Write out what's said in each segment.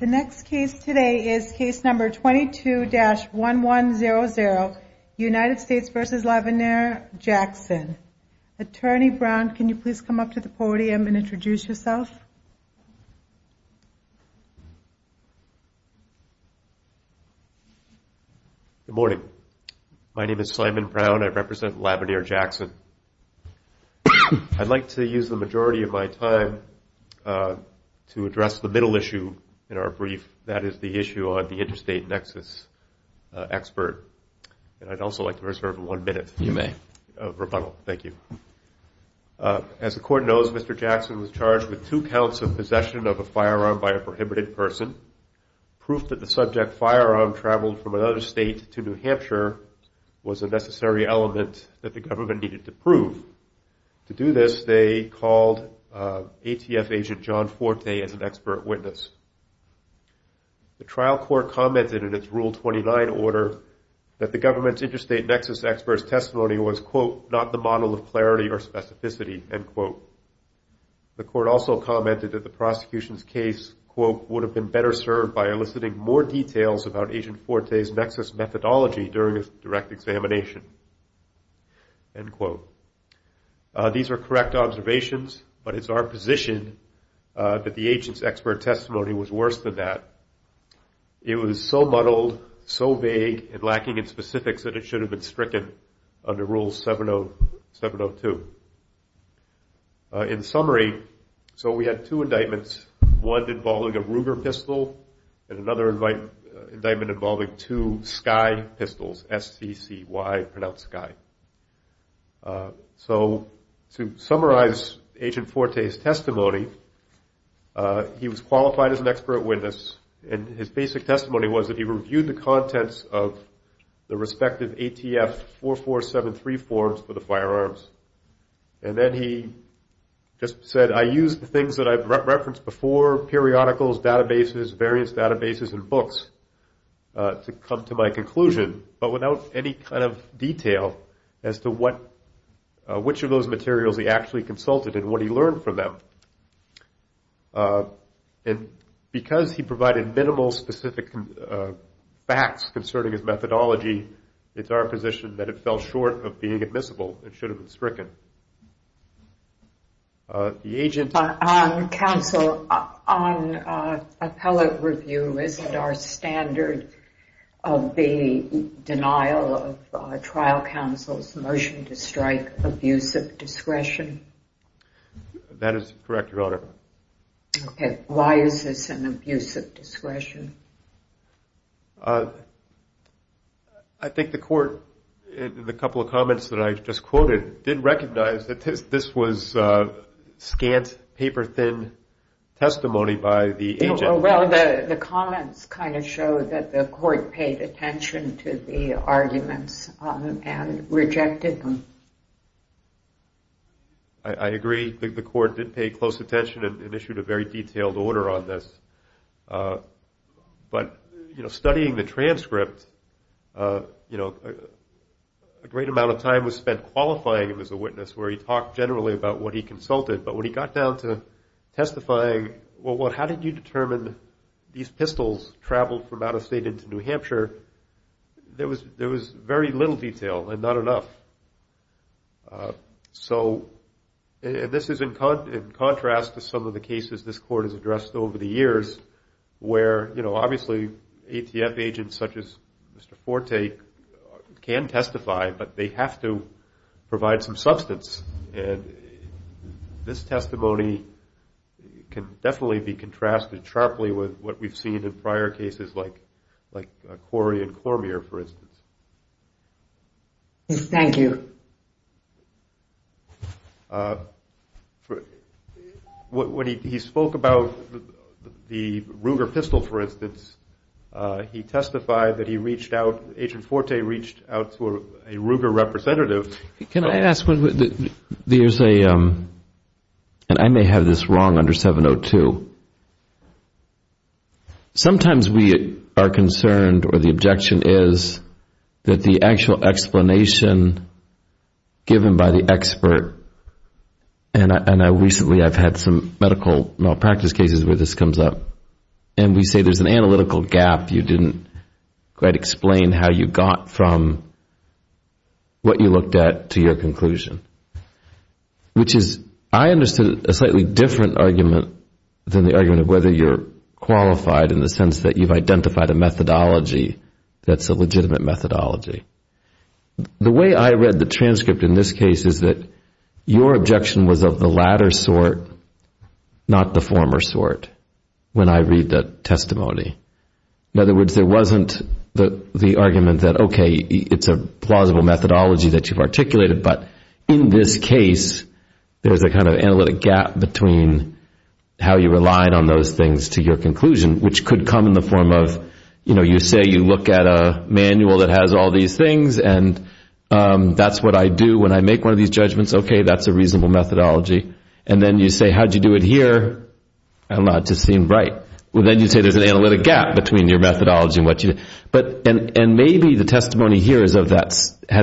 The next case today is case number 22-1100, United States v. Lavenier Jackson. Attorney Brown, can you please come up to the podium and introduce yourself? Good morning. My name is Simon Brown. I represent Lavenier Jackson. I'd like to use the majority of my time to address the middle issue in our brief, that is the issue on the interstate nexus expert. And I'd also like to reserve one minute of rebuttal. You may. Thank you. As the Court knows, Mr. Jackson was charged with two counts of possession of a firearm by a prohibited person. was a necessary element that the government needed to prove. To do this, they called ATF agent John Forte as an expert witness. The trial court commented in its Rule 29 order that the government's interstate nexus expert's testimony was, quote, not the model of clarity or specificity, end quote. The court also commented that the prosecution's case, quote, would have been better served by eliciting more details about Agent Forte's nexus methodology during a direct examination, end quote. These are correct observations, but it's our position that the agent's expert testimony was worse than that. It was so muddled, so vague and lacking in specifics that it should have been stricken under Rule 702. In summary, so we had two indictments, one involving a Ruger pistol and another indictment involving two Sky pistols, S-C-C-Y, pronounced Sky. So to summarize Agent Forte's testimony, he was qualified as an expert witness, and his basic testimony was that he reviewed the contents of the respective ATF 4473 forms for the firearms. And then he just said, I used the things that I've referenced before, periodicals, databases, various databases and books, to come to my conclusion, but without any kind of detail as to which of those materials he actually consulted and what he learned from them. And because he provided minimal specific facts concerning his methodology, it's our position that it fell short of being admissible and should have been stricken. The agent... Counsel, on appellate review, isn't our standard of the denial of trial counsel's motion to strike abusive discretion? That is correct, Your Honor. Okay. Why is this an abusive discretion? I think the court, in the couple of comments that I just quoted, didn't recognize that this was scant, paper-thin testimony by the agent. Well, the comments kind of show that the court paid attention to the arguments and rejected them. I agree. The court did pay close attention and issued a very detailed order on this. But, you know, studying the transcript, you know, a great amount of time was spent qualifying him as a witness, where he talked generally about what he consulted, but when he got down to testifying, well, how did you determine these pistols traveled from out of state into New Hampshire? There was very little detail and not enough. So this is in contrast to some of the cases this court has addressed over the years, where, you know, obviously ATF agents such as Mr. Forte can testify, but they have to provide some substance. And this testimony can definitely be contrasted sharply with what we've seen in prior cases, like Corey and Cormier, for instance. Thank you. When he spoke about the Ruger pistol, for instance, he testified that he reached out, Agent Forte reached out to a Ruger representative. Can I ask one? There's a, and I may have this wrong under 702. Sometimes we are concerned or the objection is that the actual explanation given by the expert, and recently I've had some medical malpractice cases where this comes up, and we say there's an analytical gap. You didn't quite explain how you got from what you looked at to your conclusion, which is I understood a slightly different argument than the argument of whether you're qualified in the sense that you've identified a methodology that's a legitimate methodology. The way I read the transcript in this case is that your objection was of the latter sort, not the former sort, when I read that testimony. In other words, there wasn't the argument that, okay, it's a plausible methodology that you've articulated, but in this case there's a kind of analytic gap between how you relied on those things to your conclusion, which could come in the form of, you know, you say you look at a manual that has all these things, and that's what I do when I make one of these judgments. Okay, that's a reasonable methodology. And then you say, how did you do it here? I'm not just seeing right. Well, then you say there's an analytic gap between your methodology and what you, and maybe the testimony here has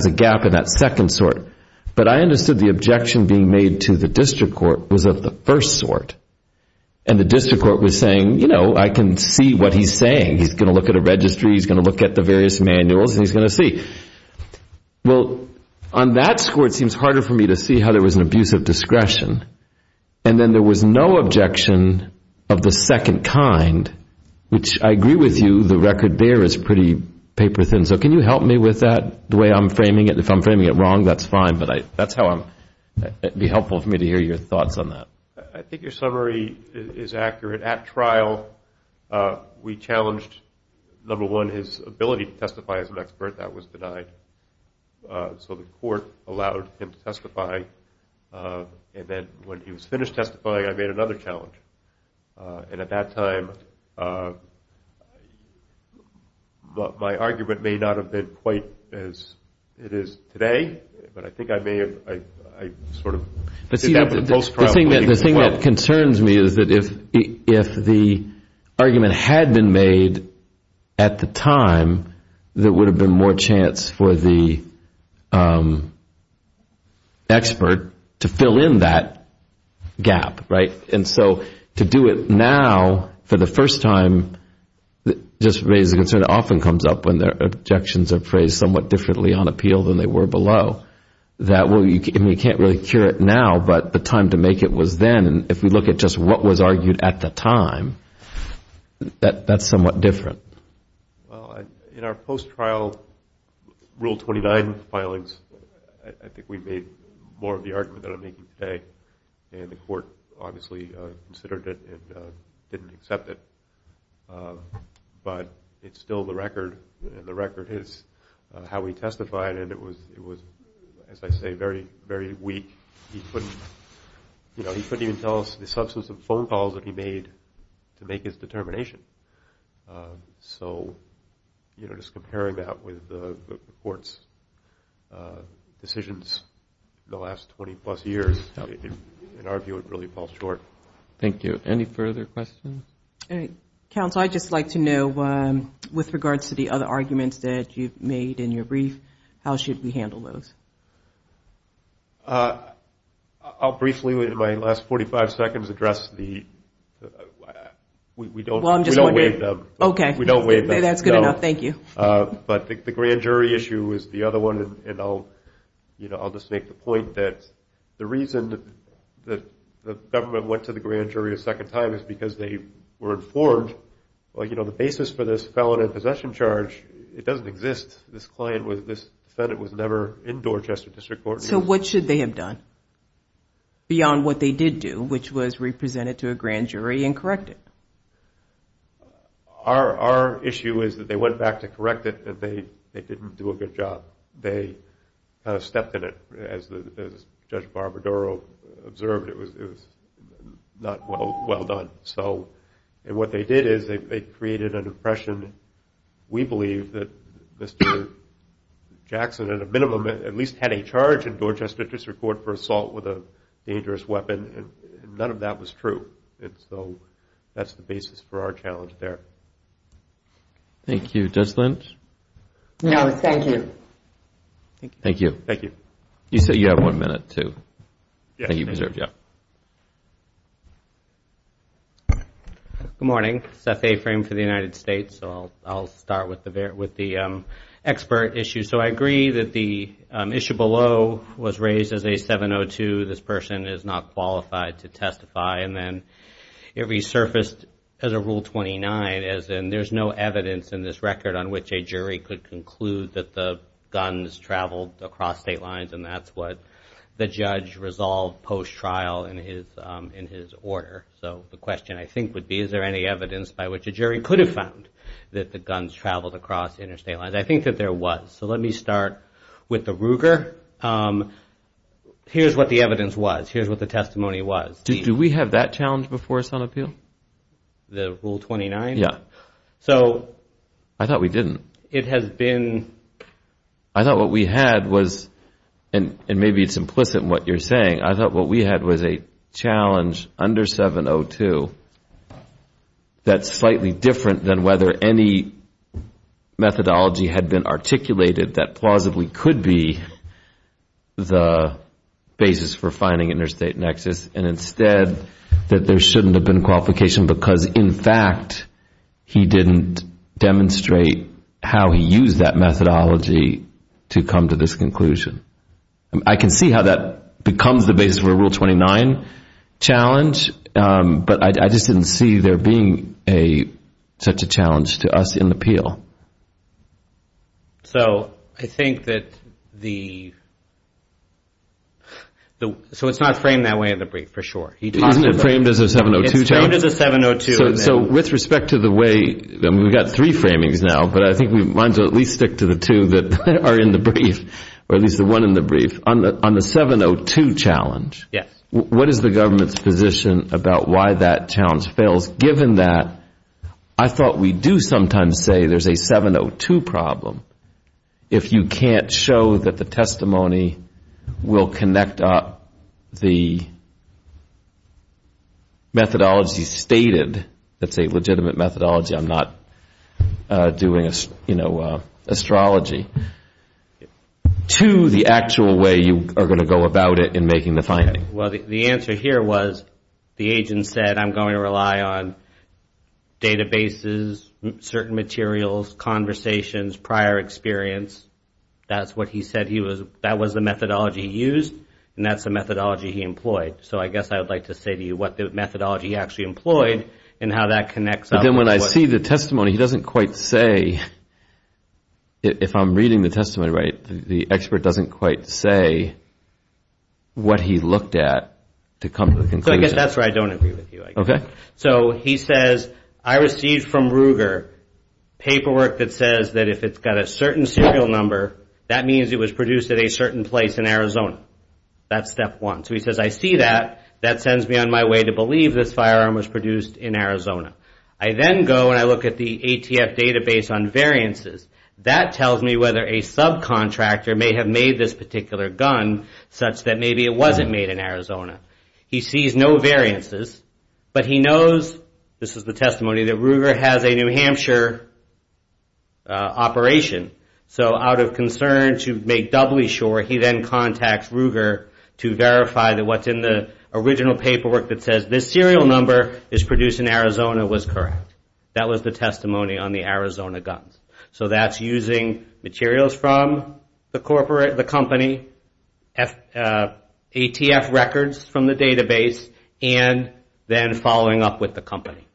a gap in that second sort, but I understood the objection being made to the district court was of the first sort, and the district court was saying, you know, I can see what he's saying. He's going to look at a registry. He's going to look at the various manuals, and he's going to see. Well, on that score, it seems harder for me to see how there was an abuse of discretion, and then there was no objection of the second kind, which I agree with you. The record there is pretty paper thin. So can you help me with that, the way I'm framing it? If I'm framing it wrong, that's fine, but that's how I'm going to be helpful for me to hear your thoughts on that. I think your summary is accurate. At trial, we challenged, number one, his ability to testify as an expert. That was denied. So the court allowed him to testify. And then when he was finished testifying, I made another challenge. And at that time, my argument may not have been quite as it is today, but I think I may have, I sort of did that in a close trial. The thing that concerns me is that if the argument had been made at the time, there would have been more chance for the expert to fill in that gap, right? And so to do it now for the first time just raises a concern that often comes up when their objections are phrased somewhat differently on appeal than they were below, that we can't really cure it now, but the time to make it was then. And if we look at just what was argued at the time, that's somewhat different. Well, in our post-trial Rule 29 filings, I think we made more of the argument that I'm making today, and the court obviously considered it and didn't accept it. But it's still the record, and the record is how we testified, and it was, as I say, very weak. You know, he couldn't even tell us the substance of phone calls that he made to make his determination. So, you know, just comparing that with the court's decisions in the last 20-plus years, in our view, it really falls short. Thank you. Any further questions? Counsel, I'd just like to know, with regards to the other arguments that you've made in your brief, how should we handle those? I'll briefly, in my last 45 seconds, address the – we don't waive them. Okay. We don't waive them. That's good enough. Thank you. But the grand jury issue is the other one, and I'll just make the point that the reason that the government went to the grand jury a second time is because they were informed, well, you know, the basis for this felon and possession charge, it doesn't exist. This client was – this defendant was never in Dorchester District Court. So what should they have done beyond what they did do, which was represent it to a grand jury and correct it? Our issue is that they went back to correct it, that they didn't do a good job. They kind of stepped in it. As Judge Barbadaro observed, it was not well done. And what they did is they created an impression, we believe, that Mr. Jackson, at a minimum, at least had a charge in Dorchester District Court for assault with a dangerous weapon, and none of that was true. And so that's the basis for our challenge there. Thank you. Judge Lynch? No, thank you. Thank you. Thank you. You said you have one minute, too. Yes. That you preserved, yeah. Good morning. Seth Aframe for the United States. So I'll start with the expert issue. So I agree that the issue below was raised as a 702, this person is not qualified to testify, and then it resurfaced as a Rule 29, as in there's no evidence in this record on which a jury could conclude that the guns traveled across state lines, and that's what the judge resolved post-trial in his order. So the question, I think, would be is there any evidence by which a jury could have found that the guns traveled across interstate lines. I think that there was. So let me start with the Ruger. Here's what the evidence was. Here's what the testimony was. Do we have that challenge before us on appeal? The Rule 29? Yeah. I thought we didn't. It has been. I thought what we had was, and maybe it's implicit in what you're saying, I thought what we had was a challenge under 702 that's slightly different than whether any methodology had been articulated that plausibly could be the basis for finding interstate nexus, and instead that there shouldn't have been qualification because, in fact, he didn't demonstrate how he used that methodology to come to this conclusion. I can see how that becomes the basis for a Rule 29 challenge, but I just didn't see there being such a challenge to us in appeal. So I think that the—so it's not framed that way in the brief, for sure. Isn't it framed as a 702 challenge? It's framed as a 702. So with respect to the way—I mean, we've got three framings now, but I think we might as well at least stick to the two that are in the brief, or at least the one in the brief. On the 702 challenge, what is the government's position about why that challenge fails, given that I thought we do sometimes say there's a 702 problem if you can't show that the testimony will connect up the methodology stated, that's a legitimate methodology, I'm not doing astrology, to the actual way you are going to go about it in making the finding? Well, the answer here was the agent said, I'm going to rely on databases, certain materials, conversations, prior experience. That's what he said he was—that was the methodology he used, and that's the methodology he employed. So I guess I would like to say to you what the methodology he actually employed and how that connects up. But then when I see the testimony, he doesn't quite say, if I'm reading the testimony right, the expert doesn't quite say what he looked at to come to the conclusion. So I guess that's where I don't agree with you. Okay. So he says, I received from Ruger paperwork that says that if it's got a certain serial number, that means it was produced at a certain place in Arizona. That's step one. So he says, I see that. That sends me on my way to believe this firearm was produced in Arizona. I then go and I look at the ATF database on variances. That tells me whether a subcontractor may have made this particular gun such that maybe it wasn't made in Arizona. He sees no variances, but he knows—this is the testimony— that Ruger has a New Hampshire operation. So out of concern to make doubly sure, he then contacts Ruger to verify that what's in the original paperwork that says this serial number is produced in Arizona was correct. That was the testimony on the Arizona guns. So that's using materials from the company, ATF records from the database, and then following up with the company.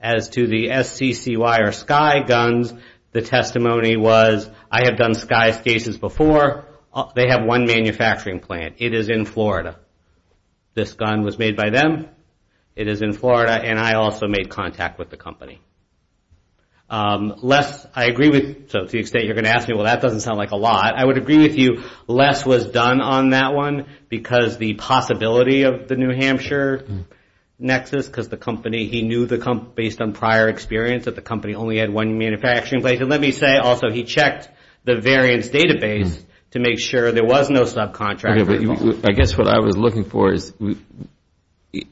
As to the SCCY or Skye guns, the testimony was, I have done Skye cases before. They have one manufacturing plant. It is in Florida. This gun was made by them. Les, I agree with—so to the extent you're going to ask me, well, that doesn't sound like a lot. I would agree with you. Les was done on that one because the possibility of the New Hampshire nexus because the company—he knew based on prior experience that the company only had one manufacturing place. And let me say, also, he checked the variance database to make sure there was no subcontractor involved. I guess what I was looking for is,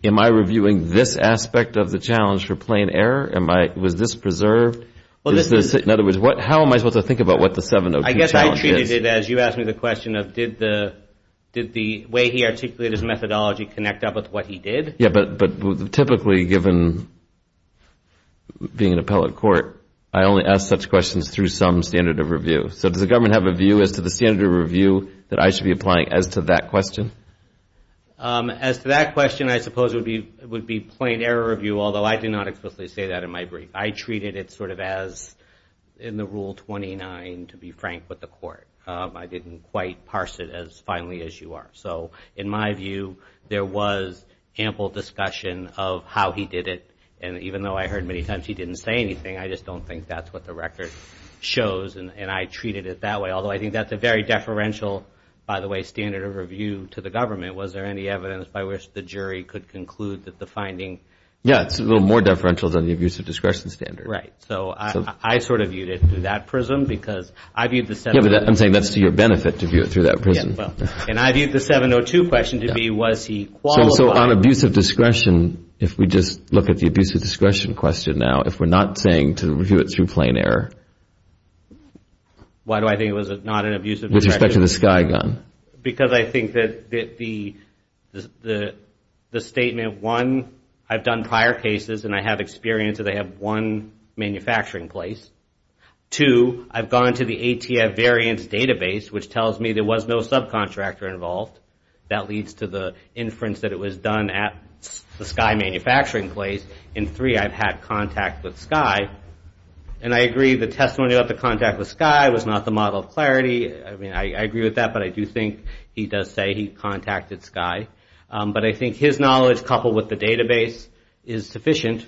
am I reviewing this aspect of the challenge for plain error? Was this preserved? In other words, how am I supposed to think about what the 702 challenge is? I guess I treated it as you asked me the question of, did the way he articulated his methodology connect up with what he did? Yeah, but typically, given being an appellate court, I only ask such questions through some standard of review. So does the government have a view as to the standard of review that I should be applying as to that question? As to that question, I suppose it would be plain error review, although I did not explicitly say that in my brief. I treated it sort of as in the Rule 29, to be frank, with the court. I didn't quite parse it as finely as you are. So in my view, there was ample discussion of how he did it. And even though I heard many times he didn't say anything, I just don't think that's what the record shows. And I treated it that way, although I think that's a very deferential, by the way, standard of review to the government. Was there any evidence by which the jury could conclude that the finding— Yeah, it's a little more deferential than the abuse of discretion standard. Right, so I sort of viewed it through that prism because I viewed the— Yeah, but I'm saying that's to your benefit to view it through that prism. And I viewed the 702 question to be was he qualified— So on abuse of discretion, if we just look at the abuse of discretion question now, if we're not saying to review it through plain error— Why do I think it was not an abuse of discretion? With respect to the Sky Gun. Because I think that the statement, one, I've done prior cases and I have experience that they have one manufacturing place. Two, I've gone to the ATF variance database, which tells me there was no subcontractor involved. That leads to the inference that it was done at the Sky manufacturing place. And three, I've had contact with Sky. And I agree, the testimony about the contact with Sky was not the model of clarity. I mean, I agree with that, but I do think he does say he contacted Sky. But I think his knowledge, coupled with the database, is sufficient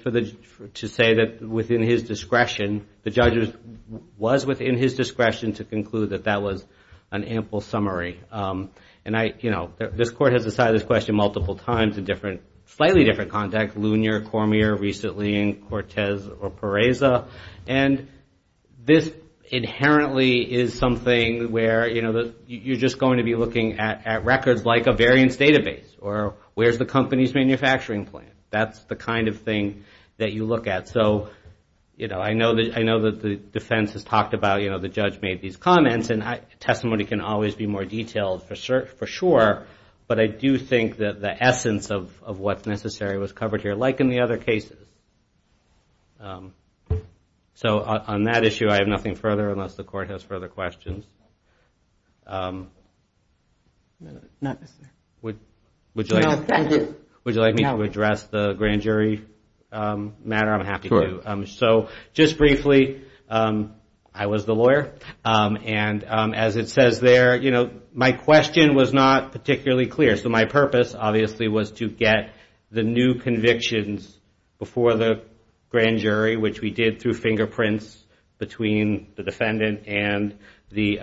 to say that within his discretion, the judge was within his discretion to conclude that that was an ample summary. And I, you know, this court has decided this question multiple times in different, slightly different contacts, Lunier, Cormier, recently in Cortez or Pereza. And this inherently is something where, you know, you're just going to be looking at records like a variance database or where's the company's manufacturing plan. That's the kind of thing that you look at. So, you know, I know that the defense has talked about, you know, the judge made these comments and testimony can always be more detailed for sure. But I do think that the essence of what's necessary was covered here, like in the other cases. So on that issue, I have nothing further unless the court has further questions. Would you like me to address the grand jury matter? I'm happy to. So just briefly, I was the lawyer. And as it says there, you know, my question was not particularly clear. So my purpose, obviously, was to get the new convictions before the grand jury, which we did through fingerprints between the defendant and the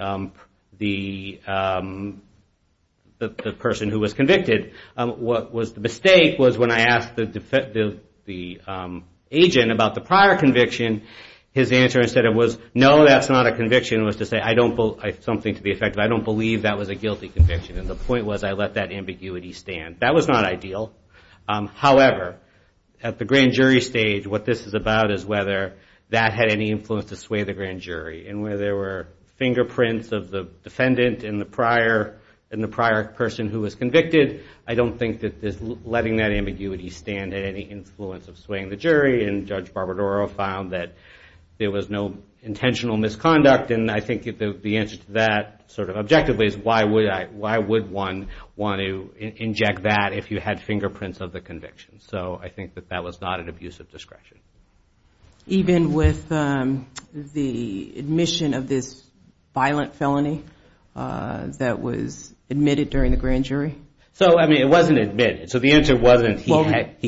person who was convicted. The mistake was when I asked the agent about the prior conviction, his answer instead of was, no, that's not a conviction, was to say, I don't believe that was a guilty conviction. And the point was I let that ambiguity stand. That was not ideal. However, at the grand jury stage, what this is about is whether that had any influence to sway the grand jury. And where there were fingerprints of the defendant and the prior person who was convicted, I don't think that letting that ambiguity stand had any influence of swaying the jury. And Judge Barbadaro found that there was no intentional misconduct. And I think the answer to that sort of objectively is, why would one want to inject that if you had fingerprints of the conviction? So I think that that was not an abusive discretion. Even with the admission of this violent felony that was admitted during the grand jury? So, I mean, it wasn't admitted. So the answer wasn't he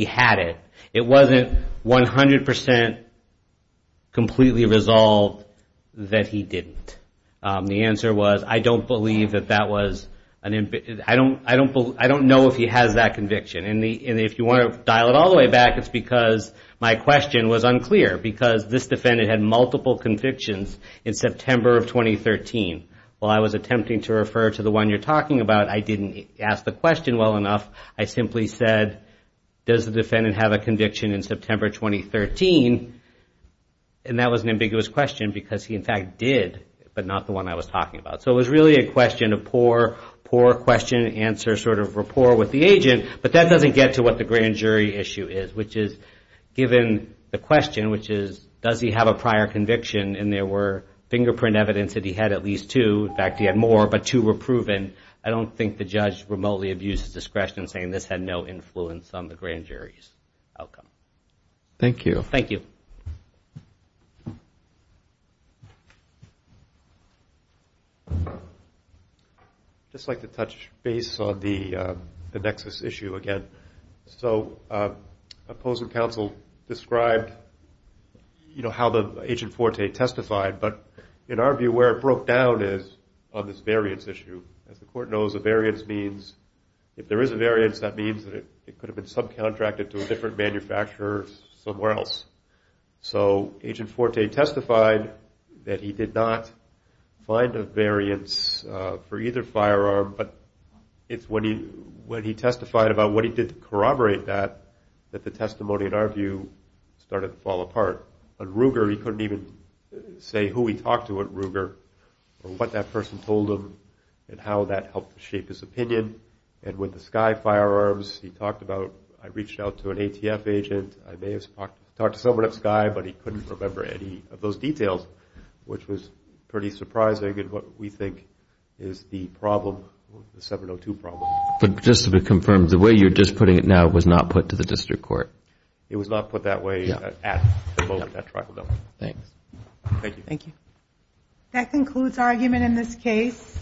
had it. It wasn't 100% completely resolved that he didn't. The answer was, I don't know if he has that conviction. And if you want to dial it all the way back, it's because my question was unclear. Because this defendant had multiple convictions in September of 2013. While I was attempting to refer to the one you're talking about, I didn't ask the question well enough. I simply said, does the defendant have a conviction in September 2013? And that was an ambiguous question, because he, in fact, did. But not the one I was talking about. So it was really a question, a poor, poor question to answer, sort of rapport with the agent. But that doesn't get to what the grand jury issue is, which is given the question, which is, does he have a prior conviction? And there were fingerprint evidence that he had at least two. In fact, he had more, but two were proven. I don't think the judge remotely abused his discretion in saying this had no influence on the grand jury's outcome. Thank you. Thank you. I'd just like to touch base on the nexus issue again. So opposing counsel described, you know, how the Agent Forte testified. But in our view, where it broke down is on this variance issue. As the Court knows, a variance means if there is a variance, that means that it could have been subcontracted to a different manufacturer somewhere else. So Agent Forte testified that he did not find a variance for either firearm, but it's when he testified about what he did to corroborate that, that the testimony, in our view, started to fall apart. On Ruger, he couldn't even say who he talked to at Ruger or what that person told him and how that helped shape his opinion. And with the Sky firearms, he talked about, I reached out to an ATF agent. I may have talked to someone at Sky, but he couldn't remember any of those details, which was pretty surprising in what we think is the problem, the 702 problem. But just to be confirmed, the way you're just putting it now was not put to the district court? It was not put that way at the moment of that trial, no. Thanks. Thank you. Thank you. That concludes our argument in this case.